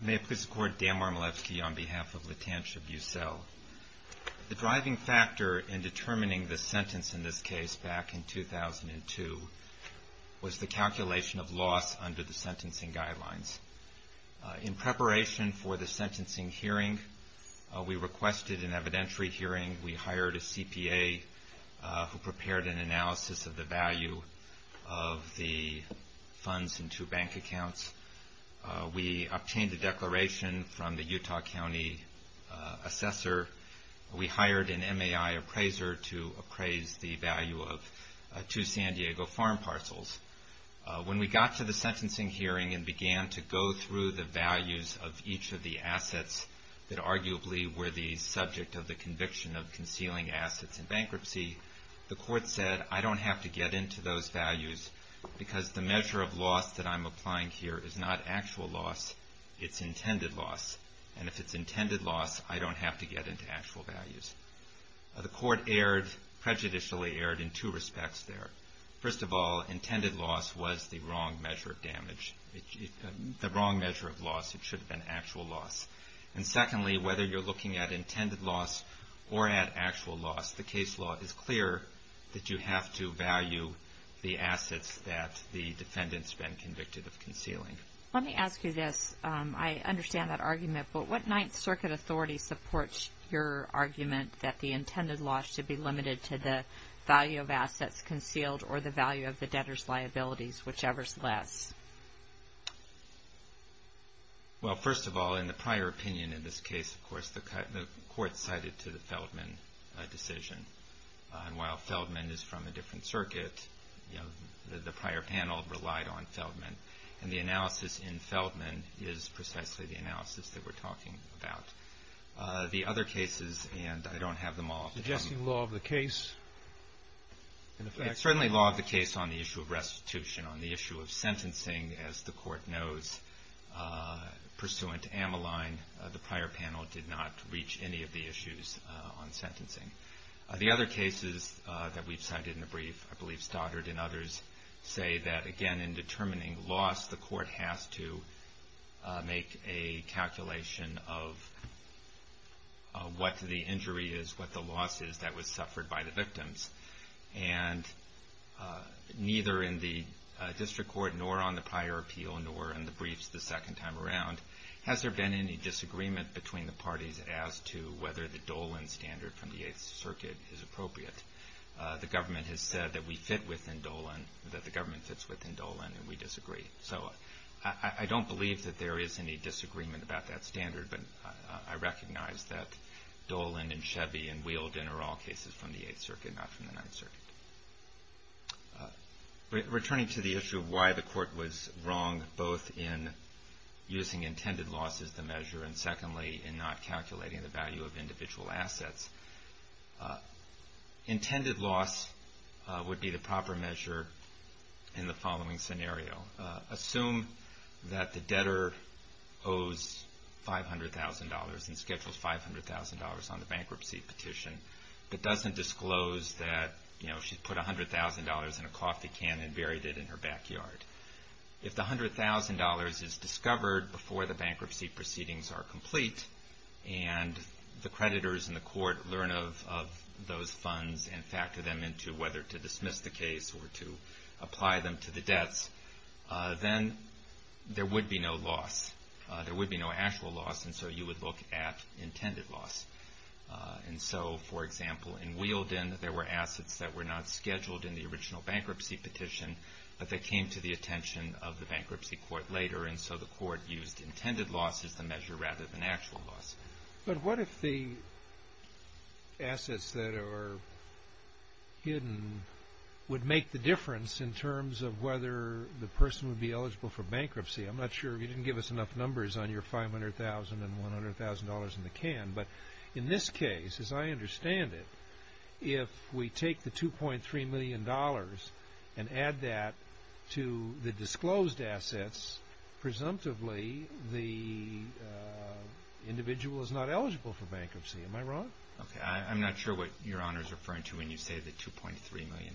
The driving factor in determining the sentence in this case back in 2002 was the calculation of loss under the sentencing guidelines. In preparation for the sentencing hearing, we requested an evidentiary hearing. We hired a CPA who prepared an analysis of the value of the funds in two bank accounts. We obtained a declaration from the Utah County Assessor. We hired an MAI appraiser to appraise the value of two San Diego farm parcels. When we got to the sentencing hearing and began to go through the values of each of the assets that arguably were the subject of the conviction of concealing assets in bankruptcy, the court said, I don't have to get into those values because the measure of loss that I'm applying here is not actual loss, it's intended loss. And if it's intended loss, I don't have to get into actual values. The court prejudicially erred in two respects there. First of all, intended loss was the wrong measure of loss. It should have been actual loss. And secondly, whether you're looking at intended loss or at actual loss, the case law is clear that you have to value the assets that the defendant's been convicted of concealing. Let me ask you this. I understand that argument, but what Ninth Circuit authority supports your argument that the intended loss should be limited to the value of assets concealed or the value of the debtor's liabilities, whichever's less? Well, first of all, in the prior opinion in this case, of course, the court cited to the Feldman decision. And while Feldman is from a different circuit, you know, the prior panel relied on Feldman. And the analysis in Feldman is precisely the analysis that we're talking about. The other cases, and I don't have them all. Suggesting law of the case? It's certainly law of the case on the issue of restitution, on the issue of sentencing, as the court knows. Pursuant to Ammaline, the prior panel did not reach any of the issues on sentencing. The other cases that we've cited in the brief, I believe Stoddard and others say that, again, in determining loss, the court has to make a calculation of what the injury is, what the loss is that was suffered by the victims. And neither in the district court, nor on the prior appeal, nor in the briefs the second time around, has there been any disagreement between the parties as to whether the Dolan standard from the Eighth Circuit is appropriate? The government has said that we fit within Dolan, that the government fits within Dolan, and we disagree. So I don't believe that there is any disagreement about that standard, but I recognize that Dolan and Chevy and Wheeldon are all cases from the Eighth Circuit, not from the Ninth Circuit. Returning to the issue of why the court was wrong both in using intended loss as the measure and secondly in not calculating the value of individual assets, intended loss would be the proper measure in the following scenario. Assume that the debtor owes $500,000 and schedules $500,000 on the bankruptcy petition, but doesn't disclose that she put $100,000 in a coffee can and buried it in her backyard. If the $100,000 is discovered before the bankruptcy proceedings are complete and the creditors in the court learn of those funds and factor them into whether to dismiss the case or to apply them to the debts, then there would be no loss. There would be no actual loss, and so you would look at intended loss. And so, for example, in Wheeldon there were assets that were not scheduled in the original bankruptcy petition, but they came to the attention of the bankruptcy court later, and so the court used intended loss as the measure rather than actual loss. But what if the assets that are hidden would make the difference in terms of whether the debtor owes $100,000? Well, I'm not sure. You didn't give us enough numbers on your $500,000 and $100,000 in the can, but in this case, as I understand it, if we take the $2.3 million and add that to the disclosed assets, presumptively the individual is not eligible for bankruptcy. Am I wrong? Okay. I'm not sure what Your Honor is referring to when you say the $2.3 million.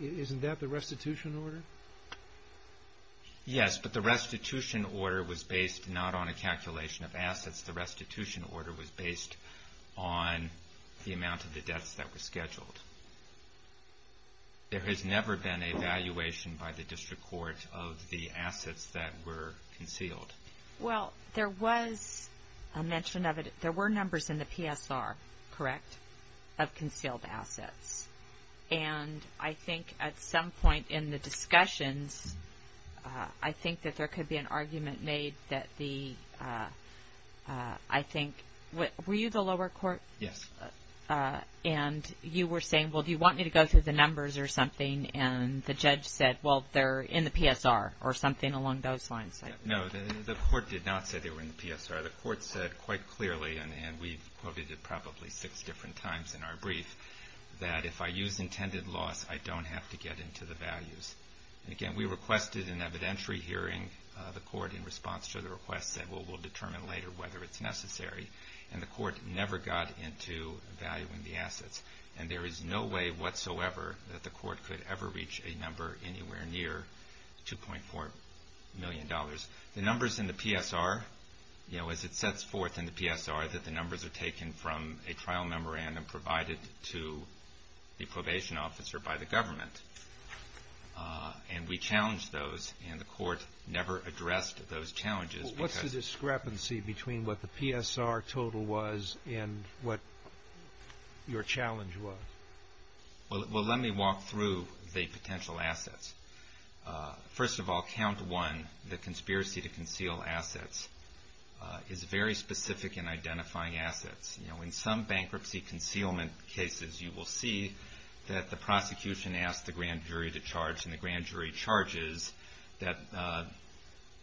Isn't that the restitution order? Yes, but the restitution order was based not on a calculation of assets. The restitution order was based on the amount of the debts that were scheduled. There has never been a valuation by the district court of the assets that were concealed. Well, there was a mention of it. There were numbers in the PSR, correct, of concealed assets, and I think at some point in the discussions, I think that there could be an argument made that the, I think, were you the lower court? Yes. And you were saying, well, do you want me to go through the numbers or something, and the judge said, well, they're in the PSR or something along those lines. No, the court did not say they were in the PSR. The court said quite clearly, and we've quoted it probably six different times in our brief, that if I use intended loss, I don't have to get into the values. And again, we requested an evidentiary hearing. The court in response to the request said, well, we'll determine later whether it's necessary, and the court never got into valuing the assets, and there is no way whatsoever that the court could ever reach a number anywhere near $2.4 million. The numbers in the PSR, you know, as it sets forth in the PSR, that the numbers are taken from a trial memorandum provided to the probation officer by the government, and we challenged those, and the court never addressed those challenges. What's the discrepancy between what the PSR total was and what your challenge was? Well, let me walk through the potential assets. First of all, count one, the conspiracy to conceal assets is very specific in identifying assets. You know, in some bankruptcy concealment cases, you will see that the prosecution asked the grand jury to charge, and the grand jury charges that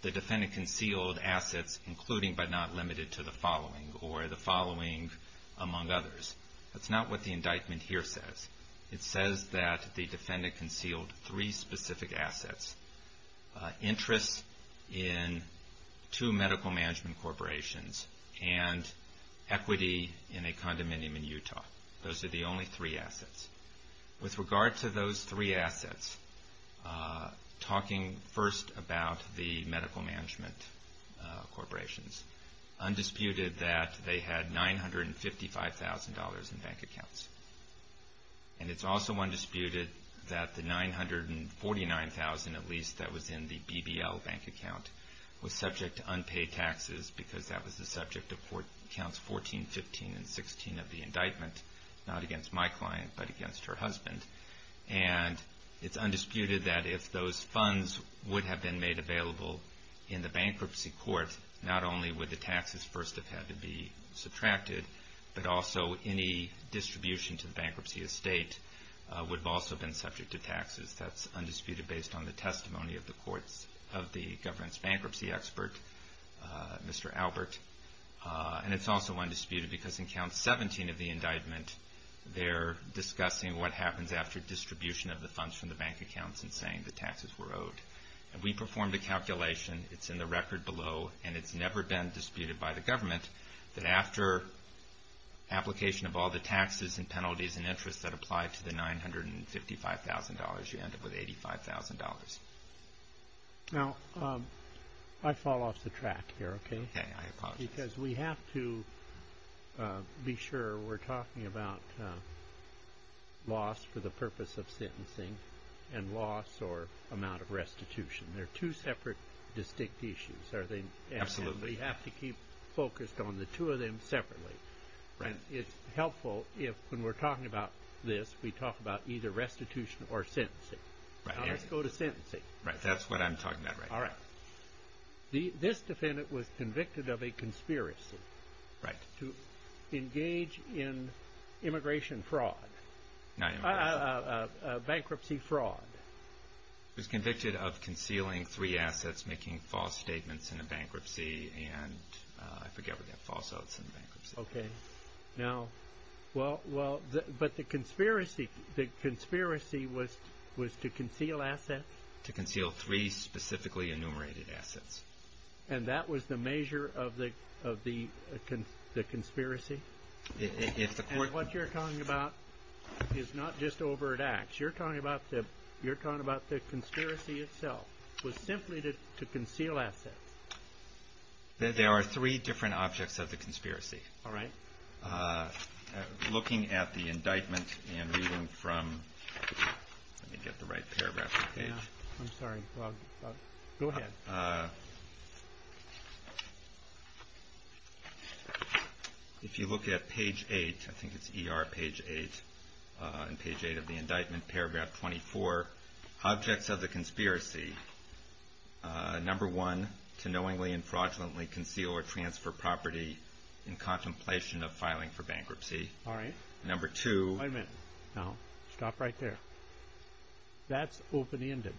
the defendant concealed assets, including but not limited to the following, or the following among others. That's not what the indictment here says. It says that the defendant concealed three specific assets, interests in two medical management corporations, and equity in a condominium in Utah. Those are the only three assets. With regard to those three assets, talking first about the medical management corporations, undisputed that they had $955,000 in bank accounts. And it's also undisputed that the $949,000 at least that was in the BBL bank account was subject to unpaid taxes because that was the subject of counts 14, 15, and 16 of the indictment, not against my client, but against her husband. And it's undisputed that if those funds would have been made available in the bankruptcy court, not only would the taxes first have had to be subtracted, but also any distribution to the bankruptcy estate would have also been subject to taxes. That's undisputed based on the testimony of the courts of the government's bankruptcy expert, Mr. Albert. And it's also undisputed because in count 17 of the indictment, they're discussing what happens after distribution of the funds from the bank accounts and saying the taxes were owed. And we performed a calculation, it's in the record below, and it's never been disputed by the government that after application of all the taxes and penalties and interests that apply to the $955,000, you end up with $85,000. Now, I fall off the track here, okay? Okay, I apologize. Because we have to be sure we're talking about loss for the purpose of sentencing and loss or amount of restitution. They're two separate, distinct issues. Absolutely. And we have to keep focused on the two of them separately. Right. And it's helpful if when we're talking about this, we talk about either restitution or sentencing. Right, that's what I'm talking about right now. All right. This defendant was convicted of a conspiracy. Right. To engage in immigration fraud. Not immigration. Bankruptcy fraud. He was convicted of concealing three assets, making false statements in a bankruptcy, and I forget what that false oath is in bankruptcy. Okay. Now, well, but the conspiracy was to conceal assets? To conceal three specifically enumerated assets. And that was the measure of the conspiracy? And what you're talking about is not just overt acts. You're talking about the conspiracy itself was simply to conceal assets. There are three different objects of the conspiracy. All right. Looking at the indictment and reading from, let me get the right paragraph. I'm sorry. Go ahead. If you look at page 8, I think it's ER page 8, and page 8 of the indictment, paragraph 24, objects of the conspiracy, number 1, to knowingly and fraudulently conceal or transfer property in contemplation of filing for bankruptcy. All right. Number 2. Wait a minute. Now, stop right there. That's open-ended.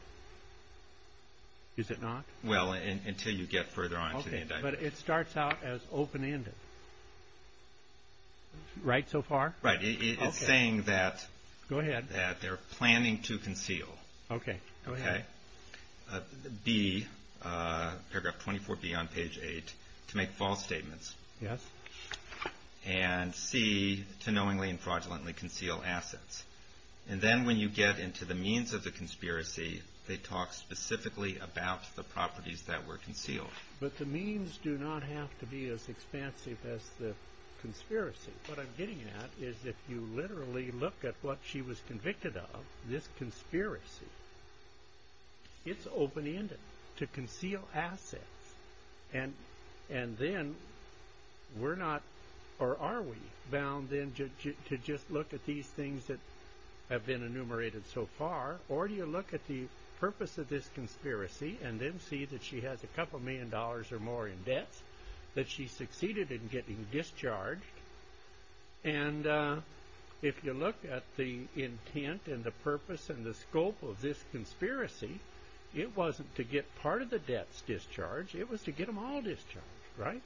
Is it not? Well, until you get further on to the indictment. Okay. But it starts out as open-ended. Right so far? Okay. It's saying that. Go ahead. That they're planning to conceal. Okay. Go ahead. B, paragraph 24B on page 8, to make false statements. Yes. And C, to knowingly and fraudulently conceal assets. And then when you get into the means of the conspiracy, they talk specifically about the properties that were concealed. But the means do not have to be as expansive as the conspiracy. What I'm getting at is if you literally look at what she was convicted of, this conspiracy, it's open-ended. To conceal assets. And then we're not, or are we, bound then to just look at these things that have been enumerated so far? Or do you look at the purpose of this conspiracy and then see that she has a couple million dollars or more in debts, that she succeeded in getting discharged? And if you look at the intent and the purpose and the scope of this conspiracy, it wasn't to get part of the debts discharged. It was to get them all discharged. Right?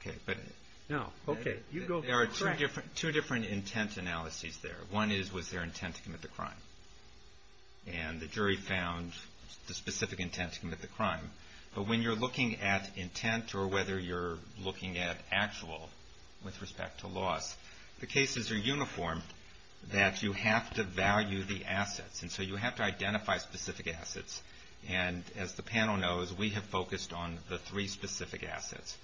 Okay. Now, okay. You go ahead. There are two different intent analyses there. One is was there intent to commit the crime? And the jury found the specific intent to commit the crime. But when you're looking at intent or whether you're looking at actual with respect to loss, the cases are uniform that you have to value the assets. And so you have to identify specific assets. And as the panel knows, we have focused on the three specific assets.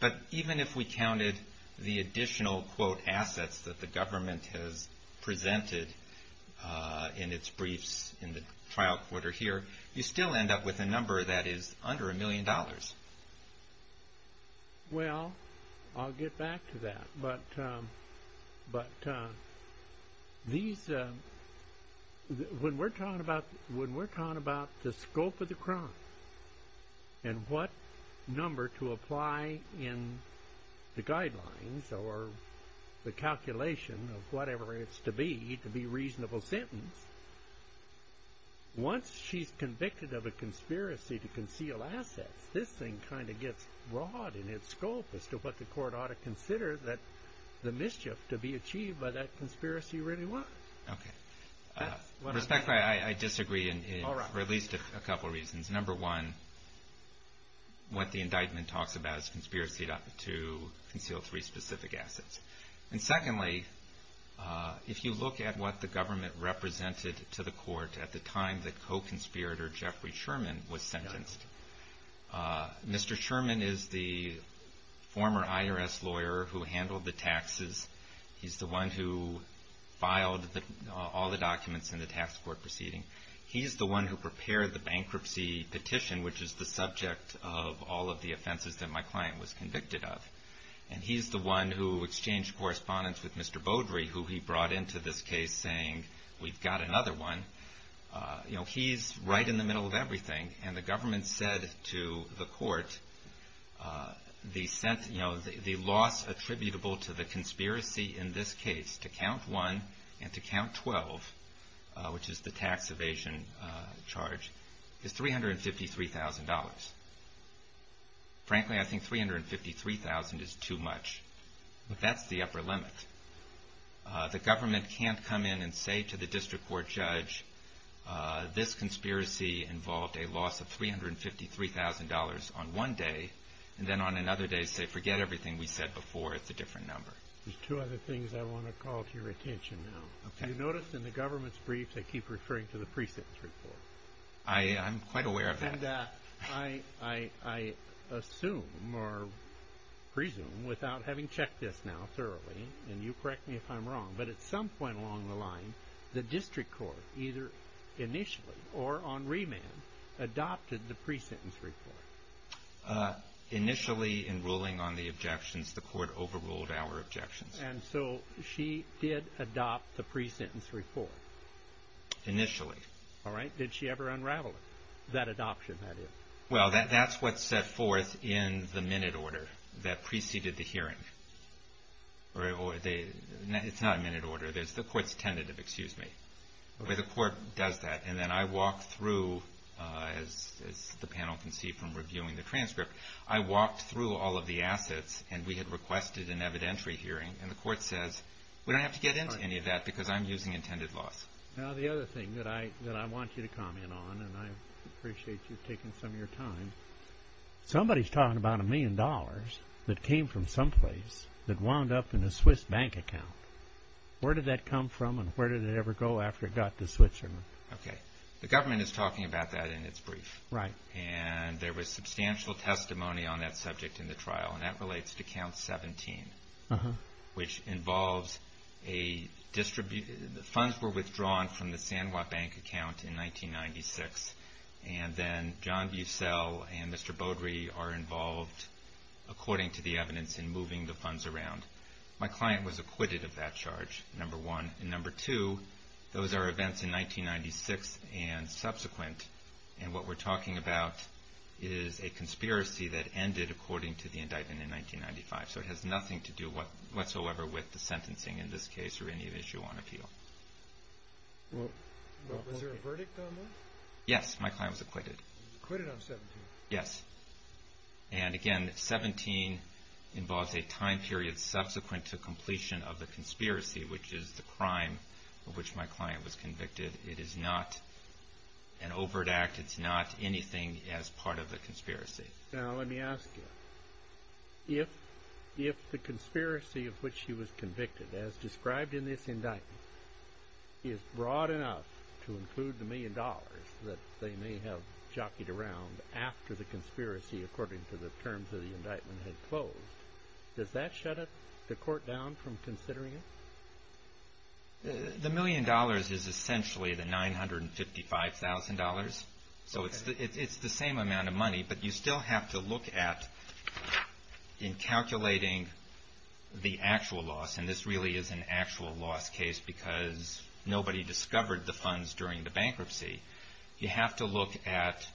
But even if we counted the additional, quote, assets that the government has presented in its briefs in the trial quarter here, you still end up with a number that is under a million dollars. Well, I'll get back to that. But when we're talking about the scope of the crime and what number to apply in the guidelines or the calculation of whatever it's to be to be a reasonable sentence, once she's convicted of a conspiracy to conceal assets, this thing kind of gets broad in its scope as to what the court ought to consider that the mischief to be achieved by that conspiracy really was. Okay. Respectfully, I disagree for at least a couple of reasons. Number one, what the indictment talks about is conspiracy to conceal three specific assets. And secondly, if you look at what the government represented to the court at the time that co-conspirator Jeffrey Sherman was sentenced, Mr. Sherman is the former IRS lawyer who handled the taxes. He's the one who filed all the documents in the tax court proceeding. He's the one who prepared the bankruptcy petition, which is the subject of all of the offenses that my client was convicted of. And he's the one who exchanged correspondence with Mr. Beaudry, who he brought into this case saying, we've got another one. You know, he's right in the middle of everything. And the government said to the court the loss attributable to the conspiracy in this case, to count one and to count 12, which is the tax evasion charge, is $353,000. Frankly, I think $353,000 is too much. That's the upper limit. The government can't come in and say to the district court judge, this conspiracy involved a loss of $353,000 on one day, and then on another day say forget everything we said before, it's a different number. There's two other things I want to call to your attention now. You notice in the government's brief they keep referring to the pre-sentence report. I'm quite aware of that. And I assume or presume, without having checked this now thoroughly, and you correct me if I'm wrong, but at some point along the line the district court either initially or on remand adopted the pre-sentence report. Initially, in ruling on the objections, the court overruled our objections. And so she did adopt the pre-sentence report? Initially. Did she ever unravel that adoption? Well, that's what's set forth in the minute order that preceded the hearing. It's not a minute order. The court's tentative, excuse me. The court does that, and then I walk through, as the panel can see from reviewing the transcript, I walked through all of the assets, and we had requested an evidentiary hearing, and the court says we don't have to get into any of that because I'm using intended loss. Now, the other thing that I want you to comment on, and I appreciate you taking some of your time, somebody's talking about a million dollars that came from someplace that wound up in a Swiss bank account. Where did that come from and where did it ever go after it got to Switzerland? Okay. The government is talking about that in its brief. Right. And there was substantial testimony on that subject in the trial, and that relates to Count 17, which involves a distribution. The funds were withdrawn from the San Juan Bank account in 1996, and then John Bucel and Mr. Beaudry are involved, according to the evidence, in moving the funds around. My client was acquitted of that charge, number one. And number two, those are events in 1996 and subsequent, and what we're talking about is a conspiracy that ended according to the indictment in 1995. So it has nothing to do whatsoever with the sentencing in this case or any issue on appeal. Was there a verdict on that? Yes. My client was acquitted. He was acquitted on 17? Yes. And again, 17 involves a time period subsequent to completion of the conspiracy, which is the crime of which my client was convicted. It is not an overt act. It's not anything as part of the conspiracy. Now, let me ask you. If the conspiracy of which he was convicted, as described in this indictment, is broad enough to include the million dollars that they may have jockeyed around after the conspiracy, according to the terms of the indictment, had closed, does that shut the court down from considering it? The million dollars is essentially the $955,000. So it's the same amount of money. But you still have to look at, in calculating the actual loss, and this really is an actual loss case because nobody discovered the funds during the bankruptcy, you have to look at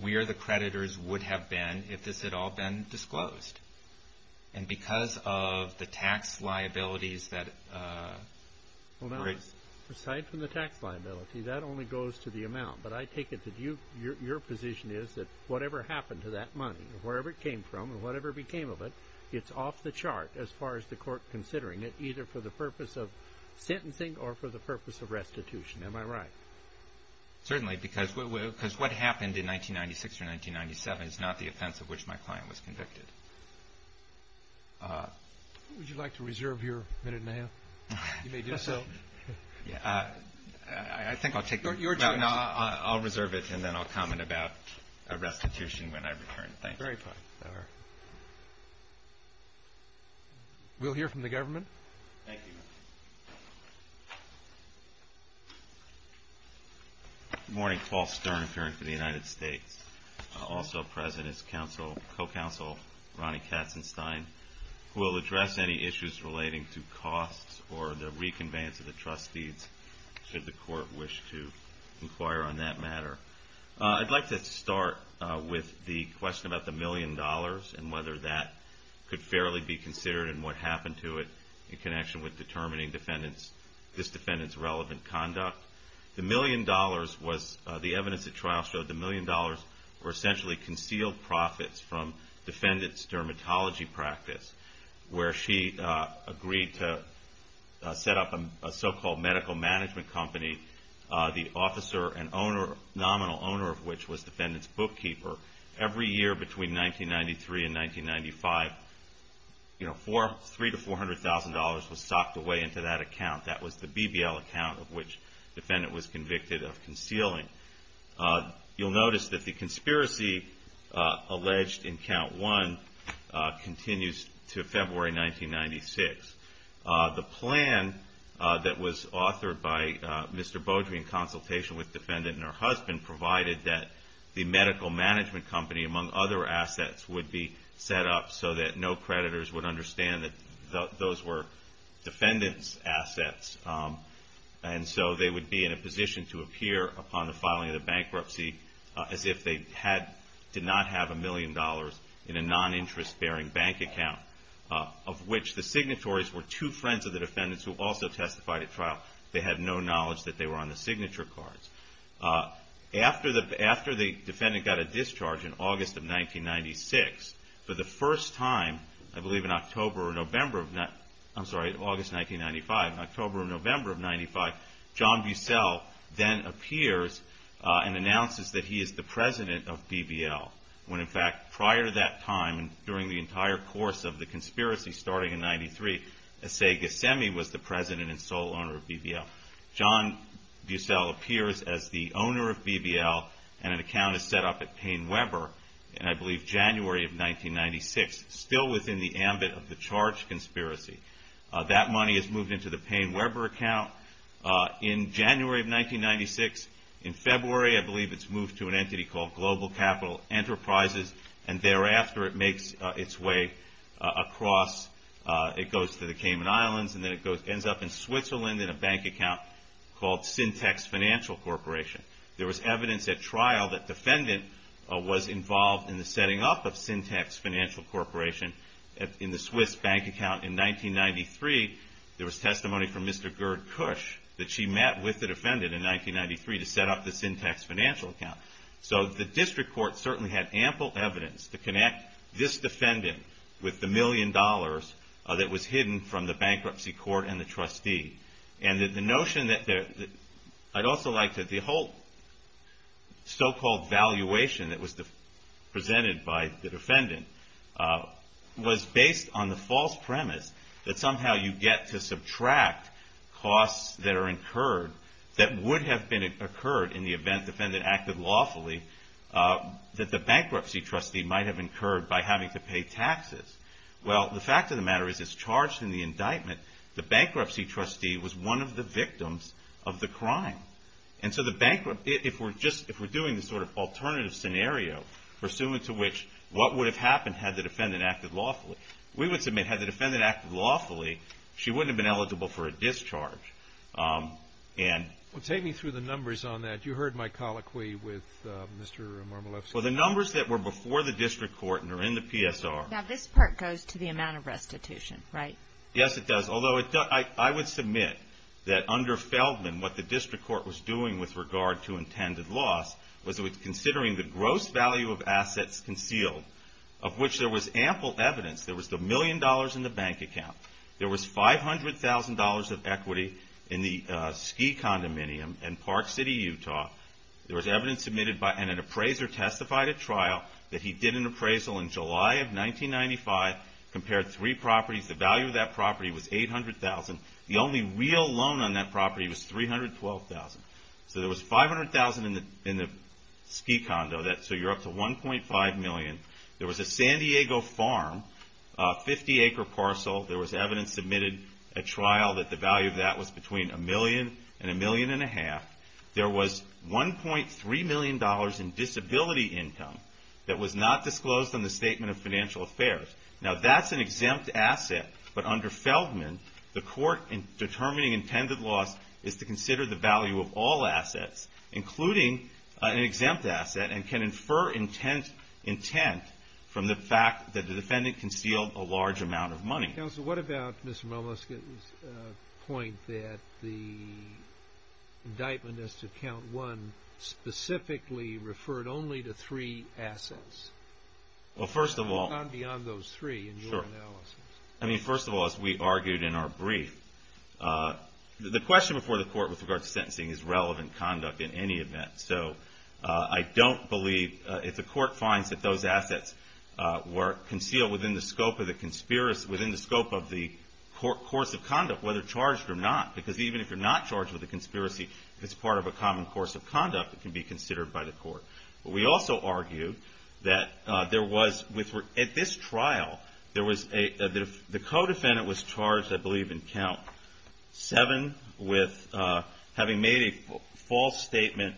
where the creditors would have been if this had all been disclosed. And because of the tax liabilities that… It only goes to the amount. But I take it that your position is that whatever happened to that money, wherever it came from and whatever became of it, it's off the chart as far as the court considering it, either for the purpose of sentencing or for the purpose of restitution. Am I right? Certainly, because what happened in 1996 or 1997 is not the offense of which my client was convicted. Would you like to reserve your minute and a half? You may do so. I think I'll take your time. I'll reserve it and then I'll comment about a restitution when I return. Thank you. Very fine. We'll hear from the government. Thank you. Good morning. Paul Stern, Attorney for the United States. Also present is co-counsel Ronnie Katzenstein, who will address any issues relating to costs or the reconveyance of the trust deeds, should the court wish to inquire on that matter. I'd like to start with the question about the million dollars and whether that could fairly be considered and what happened to it in connection with determining this defendant's relevant conduct. The evidence at trial showed the million dollars were essentially concealed profits from defendant's dermatology practice, where she agreed to set up a so-called medical management company, the officer and nominal owner of which was defendant's bookkeeper. Every year between 1993 and 1995, $300,000 to $400,000 was socked away into that account. That was the BBL account of which the defendant was convicted of concealing. You'll notice that the conspiracy alleged in count one continues to February 1996. The plan that was authored by Mr. Beaudry in consultation with defendant and her husband provided that the medical management company, among other assets, would be set up so that no creditors would understand that those were defendant's assets. And so they would be in a position to appear upon the filing of the bankruptcy as if they did not have a million dollars in a non-interest bearing bank account, of which the signatories were two friends of the defendant's who also testified at trial. They had no knowledge that they were on the signature cards. After the defendant got a discharge in August of 1996, for the first time, I believe in October or November of, I'm sorry, August 1995, in October or November of 1995, John Bucell then appears and announces that he is the president of BBL. When in fact, prior to that time, during the entire course of the conspiracy starting in 1993, Esegasemi was the president and sole owner of BBL. John Bucell appears as the owner of BBL and an account is set up at Payne Webber in, I believe, January of 1996, still within the ambit of the charge conspiracy. That money is moved into the Payne Webber account in January of 1996. In February, I believe it's moved to an entity called Global Capital Enterprises and thereafter it makes its way across, it goes to the Cayman Islands and then it ends up in Switzerland in a bank account called Syntex Financial Corporation. There was evidence at trial that defendant was involved in the setting up of Syntex Financial Corporation in the Swiss bank account in 1993. There was testimony from Mr. Gerd Kusch that she met with the defendant in 1993 to set up the Syntex Financial Account. So the district court certainly had ample evidence to connect this defendant with the million dollars that was hidden from the bankruptcy court and the trustee. And the notion that, I'd also like to, the whole so-called valuation that was presented by the defendant was based on the false premise that somehow you get to subtract costs that are incurred that would have occurred in the event the defendant acted lawfully that the bankruptcy trustee might have incurred by having to pay taxes. Well, the fact of the matter is it's charged in the indictment that the bankruptcy trustee was one of the victims of the crime. And so the bankrupt, if we're just, if we're doing this sort of alternative scenario pursuant to which what would have happened had the defendant acted lawfully. We would submit had the defendant acted lawfully, she wouldn't have been eligible for a discharge. Well, take me through the numbers on that. You heard my colloquy with Mr. Marmoleff. Well, the numbers that were before the district court and are in the PSR. Now, this part goes to the amount of restitution, right? Yes, it does. Although I would submit that under Feldman, what the district court was doing with regard to intended loss was it was considering the gross value of assets concealed, of which there was ample evidence. There was the million dollars in the bank account. There was $500,000 of equity in the ski condominium in Park City, Utah. There was evidence submitted by, and an appraiser testified at trial that he did an appraisal in July of 1995, compared three properties. The value of that property was $800,000. The only real loan on that property was $312,000. So there was $500,000 in the ski condo, so you're up to $1.5 million. There was a San Diego farm, a 50-acre parcel. There was evidence submitted at trial that the value of that was between a million and a million and a half. There was $1.3 million in disability income that was not disclosed in the Statement of Financial Affairs. Now, that's an exempt asset, but under Feldman, the court, in determining intended loss, is to consider the value of all assets, including an exempt asset, and can infer intent from the fact that the defendant concealed a large amount of money. Counsel, what about Mr. Momosky's point that the indictment as to Count 1 specifically referred only to three assets? Well, first of all... Beyond those three in your analysis. I mean, first of all, as we argued in our brief, the question before the court with regard to sentencing is relevant conduct in any event. So I don't believe, if the court finds that those assets were concealed within the scope of the conspiracy, within the scope of the course of conduct, whether charged or not, because even if you're not charged with a conspiracy, it's part of a common course of conduct that can be considered by the court. We also argue that there was... At this trial, the co-defendant was charged, I believe, in Count 7 with having made a false statement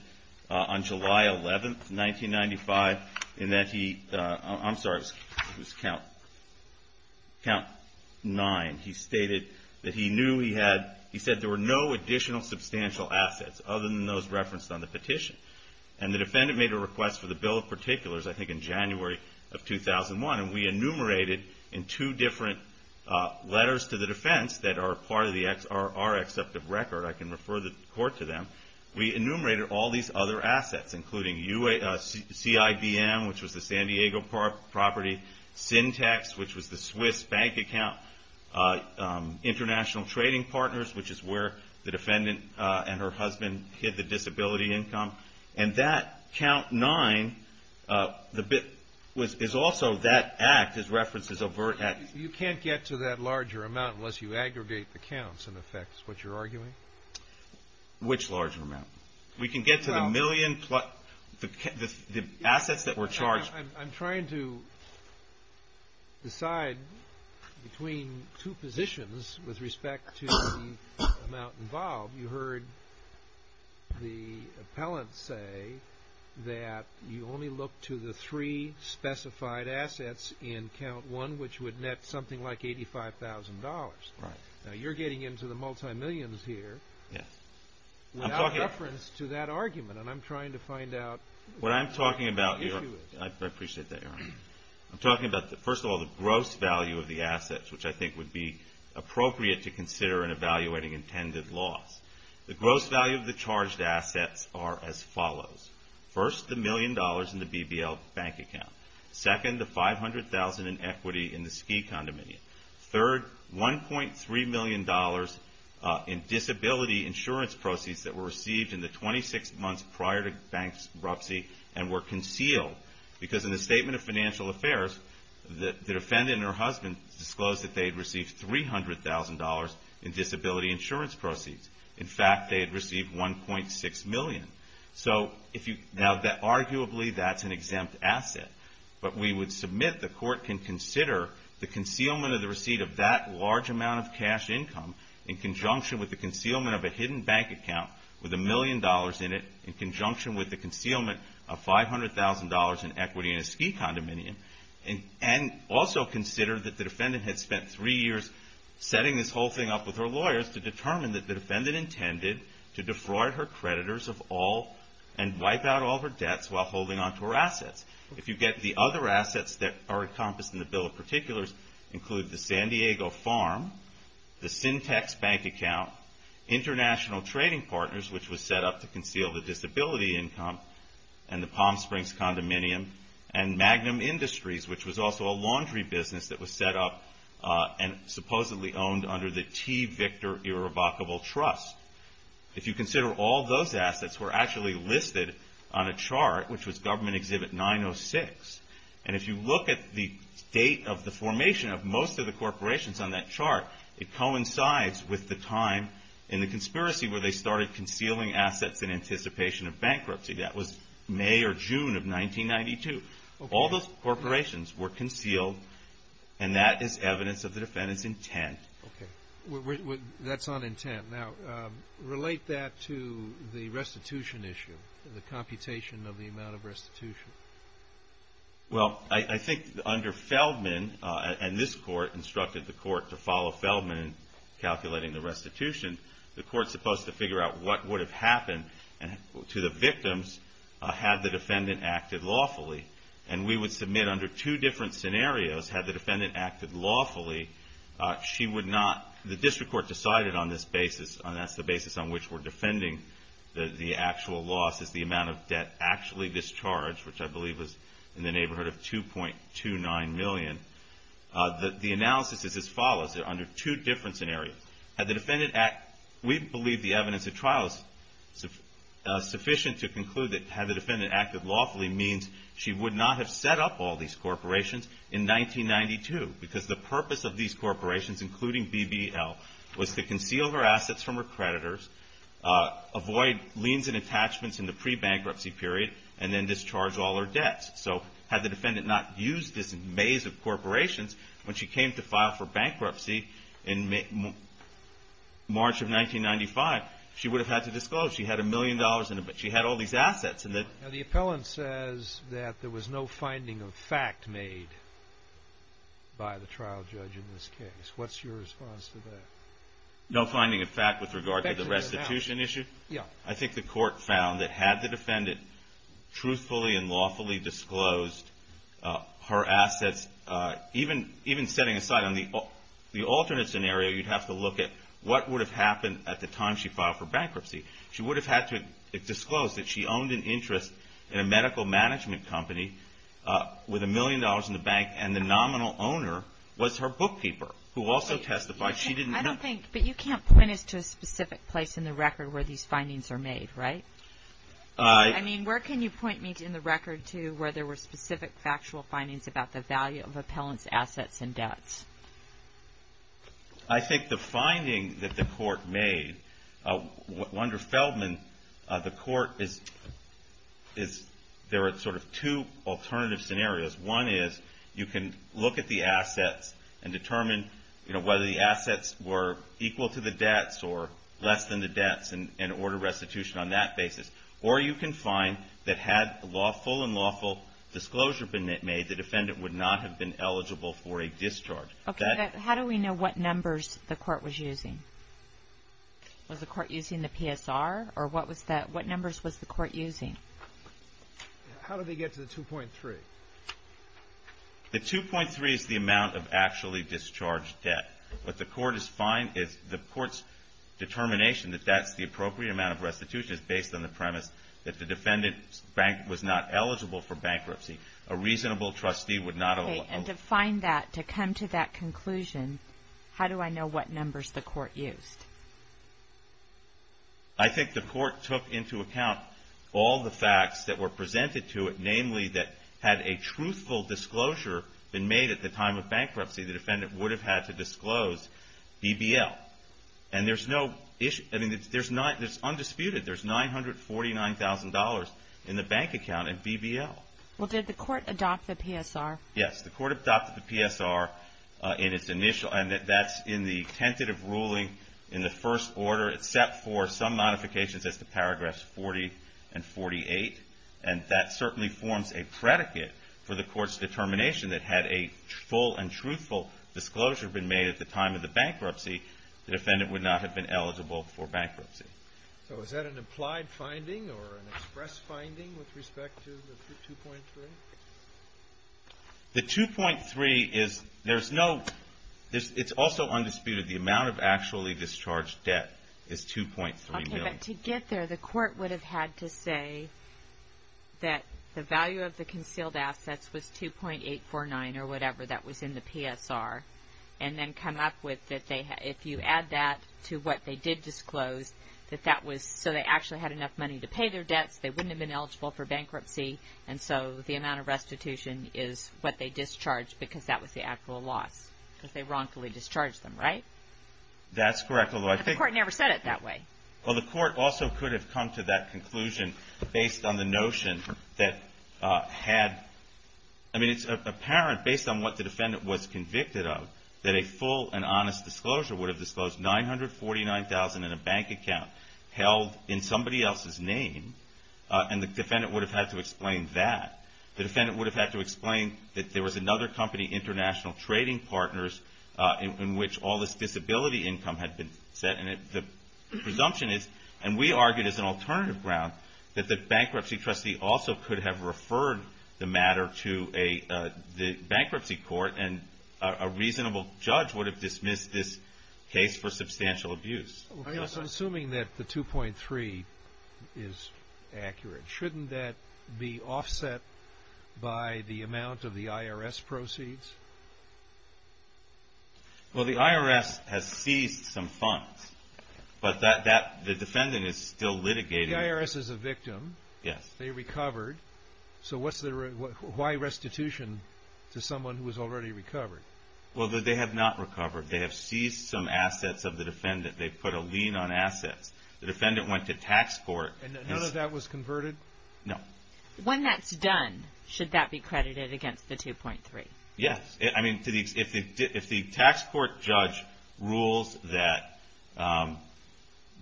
on July 11, 1995, in that he... I'm sorry, it was Count 9. He stated that he knew he had... He said there were no additional substantial assets other than those referenced on the petition. And the defendant made a request for the bill of particulars, I think in January of 2001, and we enumerated in two different letters to the defense that are part of our accepted record. I can refer the court to them. We enumerated all these other assets, including CIBM, which was the San Diego property, Syntex, which was the Swiss bank account, international trading partners, which is where the defendant and her husband hid the disability income. And that, Count 9, is also that act, is referenced as overt act. You can't get to that larger amount unless you aggregate the counts, in effect, is what you're arguing? Which larger amount? We can get to the million plus... The assets that were charged... I'm trying to decide between two positions with respect to the amount involved. You heard the appellant say that you only look to the three specified assets in Count 1, which would net something like $85,000. Right. Now, you're getting into the multi-millions here. Yes. Without reference to that argument, and I'm trying to find out... What I'm talking about... I appreciate that, Your Honor. I'm talking about, first of all, the gross value of the assets, which I think would be appropriate to consider in evaluating intended loss. The gross value of the charged assets are as follows. First, the million dollars in the BBL bank account. Second, the $500,000 in equity in the ski condominium. Third, $1.3 million in disability insurance proceeds that were received in the 26 months prior to bankruptcy and were concealed, because in the Statement of Financial Affairs, the defendant and her husband disclosed that they had received $300,000 in disability insurance proceeds. In fact, they had received $1.6 million. Now, arguably, that's an exempt asset, but we would submit the court can consider the concealment of the receipt of that large amount of cash income in conjunction with the concealment of a hidden bank account with a million dollars in it in conjunction with the concealment of $500,000 in equity in a ski condominium, and also consider that the defendant had spent three years setting this whole thing up with her lawyers to determine that the defendant intended to defraud her creditors of all and wipe out all her debts while holding on to her assets. If you get the other assets that are encompassed in the Bill of Particulars, include the San Diego farm, the Syntex bank account, international trading partners, which was set up to conceal the disability income, and the Palm Springs condominium, and Magnum Industries, which was also a laundry business that was set up and supposedly owned under the T. Victor Irrevocable Trust. If you consider all those assets were actually listed on a chart, which was Government Exhibit 906, and if you look at the date of the formation of most of the corporations on that chart, it coincides with the time in the conspiracy where they started concealing assets in anticipation of bankruptcy. That was May or June of 1992. All those corporations were concealed, and that is evidence of the defendant's intent. Okay. That's on intent. Now, relate that to the restitution issue, the computation of the amount of restitution. Well, I think under Feldman, and this Court instructed the Court to follow Feldman in calculating the restitution, the Court's supposed to figure out what would have happened to the victims had the defendant acted lawfully. And we would submit under two different scenarios had the defendant acted lawfully, she would not... The District Court decided on this basis, and that's the basis on which we're defending the actual loss, is the amount of debt actually discharged, which I believe was in the neighborhood of $2.29 million. The analysis is as follows, under two different scenarios. Had the defendant... We believe the evidence of trial is sufficient to conclude that had the defendant acted lawfully means she would not have set up all these corporations in 1992, because the purpose of these corporations, including BBL, was to conceal her assets from her creditors, avoid liens and attachments in the pre-bankruptcy period, and then discharge all her debts. So had the defendant not used this maze of corporations when she came to file for bankruptcy in March of 1995, she would have had to disclose. She had a million dollars, but she had all these assets. The appellant says that there was no finding of fact made by the trial judge in this case. What's your response to that? No finding of fact with regard to the restitution issue? Yeah. I think the court found that had the defendant truthfully and lawfully disclosed her assets, even setting aside on the alternate scenario, you'd have to look at what would have happened at the time she filed for bankruptcy. She would have had to disclose that she owned an interest in a medical management company with a million dollars in the bank, and the nominal owner was her bookkeeper, who also testified she didn't... I don't think... But you can't point us to a specific place in the record where these findings are made, right? I mean, where can you point me in the record to where there were specific factual findings about the value of appellant's assets and debts? I think the finding that the court made... Wander Feldman, the court is... There are sort of two alternative scenarios. One is you can look at the assets and determine whether the assets were equal to the debts or less than the debts and order restitution on that basis. Or you can find that had lawful and lawful disclosure been made, the defendant would not have been eligible for a discharge. Okay. How do we know what numbers the court was using? Was the court using the PSR? Or what was that... What numbers was the court using? How do they get to the 2.3? The 2.3 is the amount of actually discharged debt. What the court is finding is the court's determination that that's the appropriate amount of restitution is based on the premise that the defendant was not eligible for bankruptcy. A reasonable trustee would not have... Okay. And to find that, to come to that conclusion, how do I know what numbers the court used? I think the court took into account all the facts that were presented to it, namely that had a truthful disclosure been made at the time of bankruptcy, the defendant would have had to disclose BBL. And there's no issue... I mean, it's undisputed, there's $949,000 in the bank account in BBL. Well, did the court adopt the PSR? Yes, the court adopted the PSR in its initial... and that's in the tentative ruling in the first order, except for some modifications as to paragraphs 40 and 48. And that certainly forms a predicate for the court's determination that had a full and truthful disclosure been made at the time of the bankruptcy, the defendant would not have been eligible for bankruptcy. So is that an implied finding or an express finding with respect to the 2.3? The 2.3 is... there's no... it's also undisputed. The amount of actually discharged debt is $2.3 million. Okay, but to get there, the court would have had to say that the value of the concealed assets was $2.849, or whatever that was in the PSR, and then come up with... if you add that to what they did disclose, that that was... so they actually had enough money to pay their debts, they wouldn't have been eligible for bankruptcy, and so the amount of restitution is what they discharged because that was the actual loss, because they wrongfully discharged them, right? That's correct. But the court never said it that way. Well, the court also could have come to that conclusion based on the notion that had... I mean, it's apparent, based on what the defendant was convicted of, that a full and honest disclosure would have disclosed $949,000 in a bank account held in somebody else's name, and the defendant would have had to explain that. The defendant would have had to explain that there was another company, International Trading Partners, in which all this disability income had been set, and the presumption is, and we argued as an alternative ground, that the bankruptcy trustee also could have referred the matter to the bankruptcy court, and a reasonable judge would have dismissed this case for substantial abuse. I'm assuming that the 2.3 is accurate. Shouldn't that be offset by the amount of the IRS proceeds? Well, the IRS has seized some funds, but the defendant is still litigating. The IRS is a victim. Yes. They recovered. So why restitution to someone who has already recovered? Well, they have not recovered. They have seized some assets of the defendant. They put a lien on assets. The defendant went to tax court. And none of that was converted? No. When that's done, should that be credited against the 2.3? Yes. I mean, if the tax court judge rules that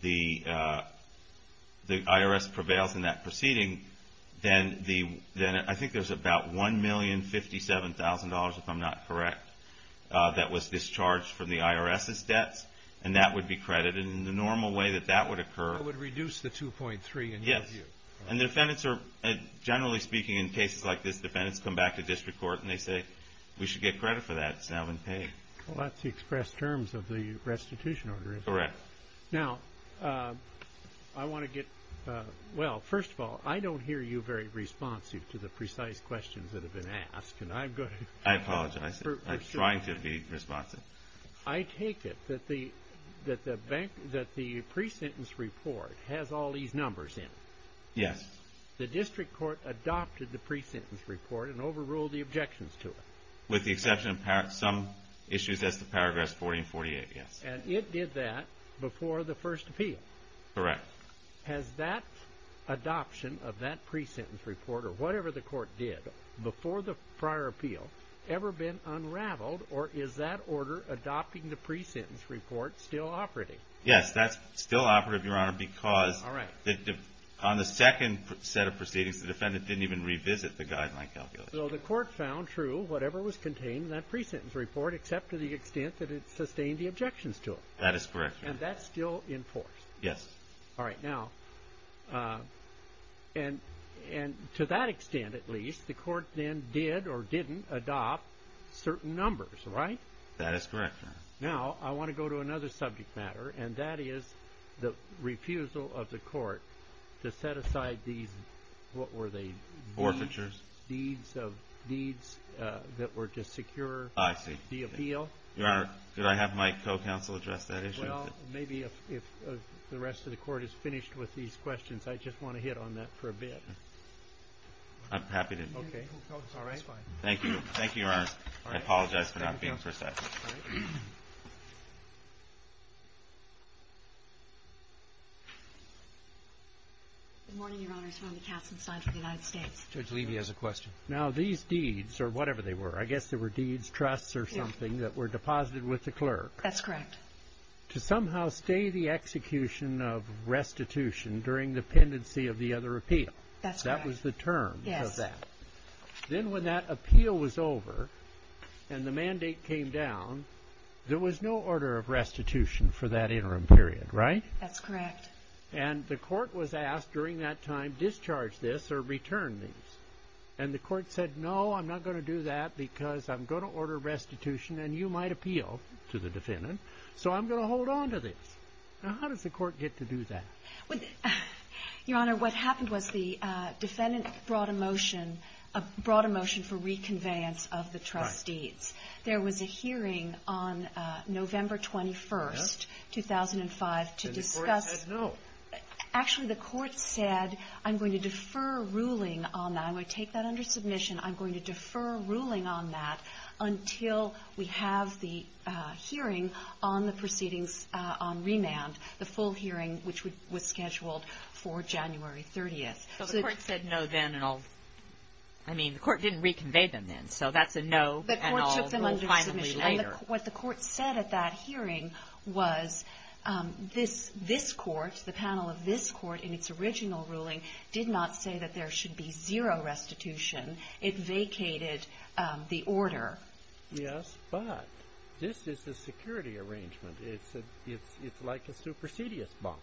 the IRS prevails in that proceeding, then I think there's about $1,057,000, if I'm not correct, that was discharged from the IRS's debts, and that would be credited. And the normal way that that would occur. That would reduce the 2.3, in your view. Yes. And defendants are, generally speaking, in cases like this, defendants come back to district court and they say, we should get credit for that, it's now been paid. Well, that's the express terms of the restitution order, is it? Correct. Now, I want to get – well, first of all, I don't hear you very responsive to the precise questions that have been asked. And I'm going to – I apologize. I'm trying to be responsive. I take it that the pre-sentence report has all these numbers in it. Yes. The district court adopted the pre-sentence report and overruled the objections to it. With the exception of some issues as to paragraphs 40 and 48, yes. And it did that before the first appeal. Correct. Has that adoption of that pre-sentence report, or whatever the court did, before the prior appeal ever been unraveled, or is that order adopting the pre-sentence report still operating? Yes, that's still operative, Your Honor, because – All right. On the second set of proceedings, the defendant didn't even revisit the guideline calculation. So the court found true whatever was contained in that pre-sentence report except to the extent that it sustained the objections to it. That is correct, Your Honor. And that's still enforced? Yes. All right. Now – and to that extent, at least, the court then did or didn't adopt certain numbers, right? That is correct, Your Honor. Now, I want to go to another subject matter, and that is the refusal of the court to set aside these – what were they? Forfeitures. Deeds of – deeds that were to secure the appeal. I see. Your Honor, did I have my co-counsel address that issue? Well, maybe if the rest of the court is finished with these questions, I just want to hit on that for a bit. I'm happy to. Okay. That's fine. Thank you, Your Honor. I apologize for not being precise. All right. Good morning, Your Honors. Rhonda Kassenstein for the United States. Judge Levy has a question. Now, these deeds, or whatever they were – I guess they were deeds, trusts, or something that were deposited with the clerk. That's correct. To somehow stay the execution of restitution during the pendency of the other appeal. That's correct. That was the term of that. Yes. Then when that appeal was over and the mandate came down, there was no order of restitution for that interim period, right? That's correct. And the court was asked during that time, discharge this or return this. And the court said, no, I'm not going to do that because I'm going to order restitution and you might appeal to the defendant, so I'm going to hold on to this. Now, how does the court get to do that? Your Honor, what happened was the defendant brought a motion – brought a motion for reconveyance of the trust deeds. There was a hearing on November 21st, 2005, to discuss – And the court said no. Actually, the court said, I'm going to defer ruling on that. I'm going to take that under submission. I'm going to defer ruling on that until we have the hearing on the proceedings on remand, the full hearing which was scheduled for January 30th. So the court said no then and I'll – I mean, the court didn't reconvey them then, so that's a no and I'll rule finally later. The court took them under submission. And what the court said at that hearing was this court, the panel of this court in its original ruling, did not say that there should be zero restitution. It vacated the order. Yes, but this is a security arrangement. It's like a supersedious bond.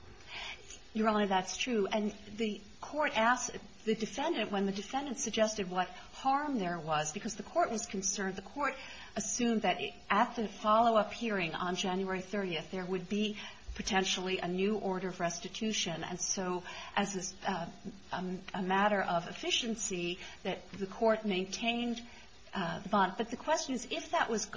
Your Honor, that's true. And the court asked the defendant, when the defendant suggested what harm there was, because the court was concerned, the court assumed that at the follow-up hearing on January 30th, there would be potentially a new order of restitution. And so as a matter of efficiency, that the court maintained the bond. But the question is, if that was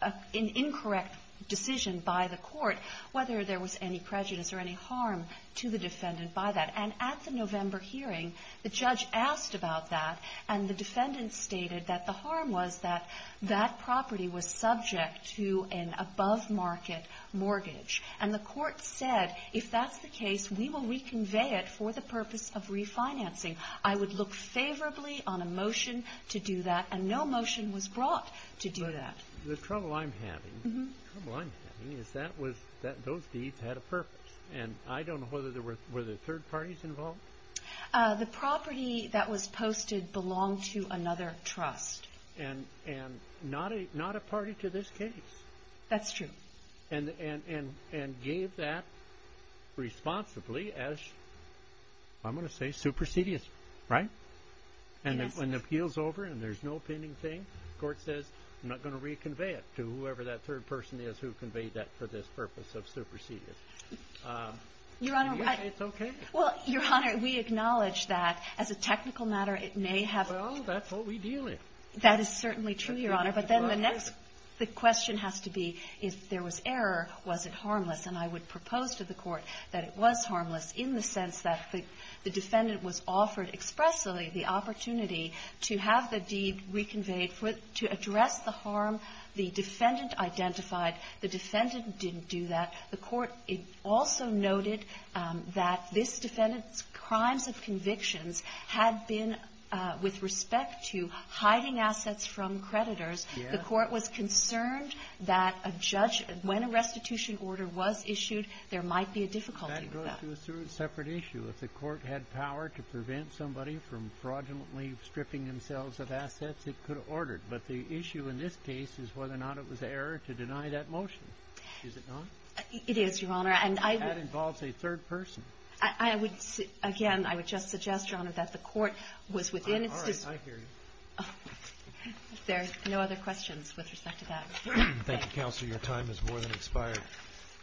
an incorrect decision by the court, whether there was any prejudice or any harm to the defendant by that. And at the November hearing, the judge asked about that and the defendant stated that the harm was that that property was subject to an above-market mortgage. And the court said, if that's the case, we will reconvey it for the purpose of refinancing. I would look favorably on a motion to do that. And no motion was brought to do that. The trouble I'm having, the trouble I'm having, is that those deeds had a purpose. And I don't know whether there were third parties involved. The property that was posted belonged to another trust. And not a party to this case. That's true. And gave that responsibly as, I'm going to say, supersedious. Right? Yes. And when the appeal's over and there's no pending thing, the court says, I'm not going to reconvey it to whoever that third person is who conveyed that for this purpose of supersedious. Your Honor. It's okay. Well, Your Honor, we acknowledge that as a technical matter, it may have. Well, that's what we deal with. That is certainly true, Your Honor. But then the next question has to be, if there was error, was it harmless? And I would propose to the court that it was harmless in the sense that the defendant was offered expressly the opportunity to have the deed reconveyed to address the harm the defendant identified. The defendant didn't do that. The court also noted that this defendant's crimes of convictions had been with respect to hiding assets from creditors. Yes. The court was concerned that a judge, when a restitution order was issued, there might be a difficulty with that. That goes to a separate issue. If the court had power to prevent somebody from fraudulently stripping themselves of assets, it could have ordered. But the issue in this case is whether or not it was error to deny that motion. Is it not? It is, Your Honor. And I would — That involves a third person. I would — again, I would just suggest, Your Honor, that the court was within its — All right. I hear you. If there are no other questions with respect to that, thank you. Thank you, Counselor. Your time has more than expired.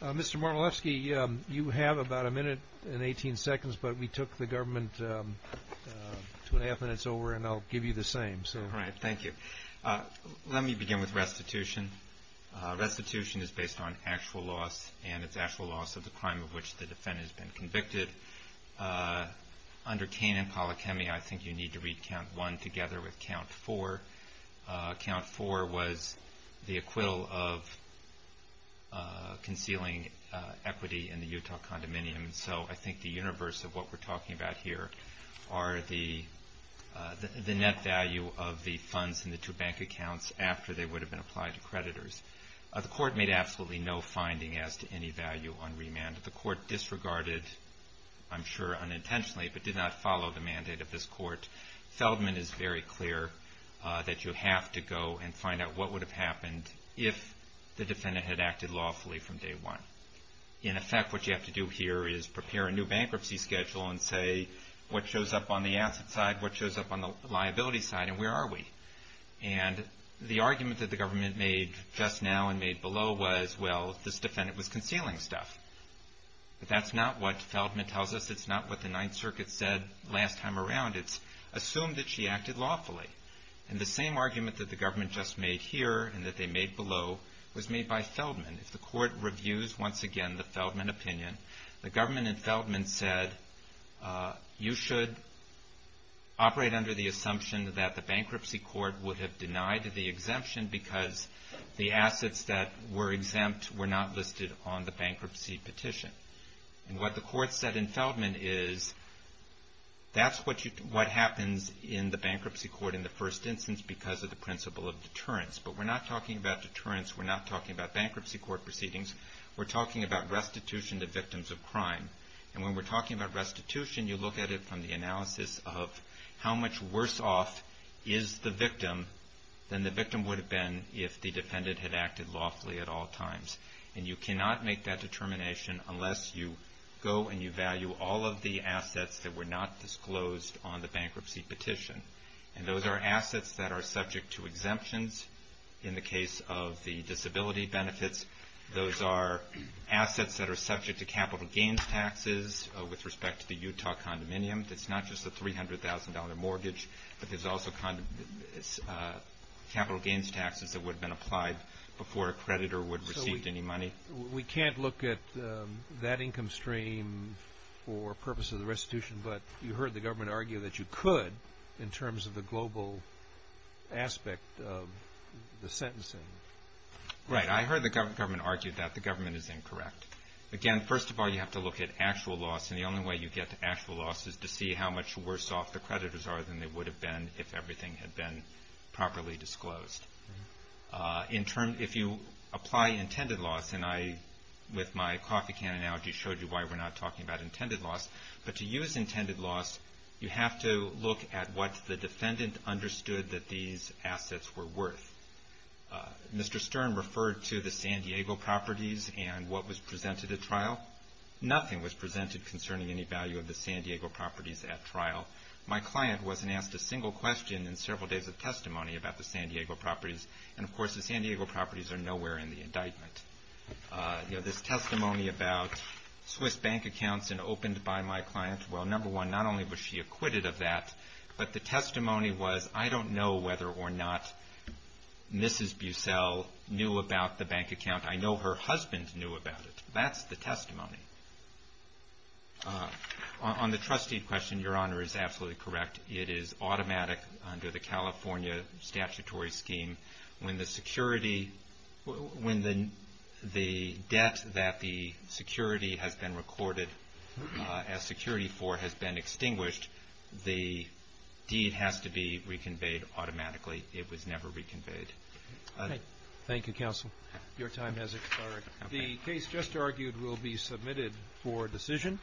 Mr. Marmolewski, you have about a minute and 18 seconds, but we took the government two and a half minutes over, and I'll give you the same. All right. Thank you. Let me begin with restitution. Restitution is based on actual loss, and it's actual loss of the crime of which the defendant has been convicted. Under Kane and Polikemi, I think you need to read Count 1 together with Count 4. Count 4 was the acquittal of concealing equity in the Utah condominium. So I think the universe of what we're talking about here are the net value of the funds and the two bank accounts after they would have been applied to creditors. The court made absolutely no finding as to any value on remand. The court disregarded, I'm sure unintentionally, but did not follow the mandate of this court. Feldman is very clear that you have to go and find out what would have happened if the defendant had acted lawfully from day one. In effect, what you have to do here is prepare a new bankruptcy schedule and say what shows up on the asset side, what shows up on the liability side, and where are we? And the argument that the government made just now and made below was, well, this defendant was concealing stuff. But that's not what Feldman tells us. It's not what the Ninth Circuit said last time around. It's assumed that she acted lawfully. And the same argument that the government just made here and that they made below was made by Feldman. If the court reviews, once again, the Feldman opinion, the government in Feldman said you should operate under the assumption that the bankruptcy court would have denied the exemption because the assets that were exempt were not listed on the bankruptcy petition. And what the court said in Feldman is that's what happens in the bankruptcy court in the first instance because of the principle of deterrence. But we're not talking about deterrence. We're not talking about bankruptcy court proceedings. We're talking about restitution to victims of crime. And when we're talking about restitution, you look at it from the analysis of how much is the victim, then the victim would have been if the defendant had acted lawfully at all times. And you cannot make that determination unless you go and you value all of the assets that were not disclosed on the bankruptcy petition. And those are assets that are subject to exemptions in the case of the disability benefits. Those are assets that are subject to capital gains taxes with respect to the Utah condominium. It's not just a $300,000 mortgage, but there's also capital gains taxes that would have been applied before a creditor would have received any money. So we can't look at that income stream for purposes of restitution, but you heard the government argue that you could in terms of the global aspect of the sentencing. Right. I heard the government argue that. The government is incorrect. Again, first of all, you have to look at actual loss. And the only way you get to actual loss is to see how much worse off the creditors are than they would have been if everything had been properly disclosed. If you apply intended loss, and I, with my coffee can analogy, showed you why we're not talking about intended loss, but to use intended loss, you have to look at what the defendant understood that these assets were worth. Mr. Stern referred to the San Diego properties and what was presented at trial. Nothing was presented concerning any value of the San Diego properties at trial. My client wasn't asked a single question in several days of testimony about the San Diego properties. And, of course, the San Diego properties are nowhere in the indictment. You know, this testimony about Swiss bank accounts and opened by my client, well, number one, not only was she acquitted of that, but the testimony was, I don't know whether or not Mrs. Bussell knew about the bank account. I know her husband knew about it. That's the testimony. On the trustee question, Your Honor is absolutely correct. It is automatic under the California statutory scheme. When the security, when the debt that the security has been recorded as security for has been extinguished, the deed has to be reconveyed automatically. It was never reconveyed. Thank you, counsel. Your time has expired. The case just argued will be submitted for decision.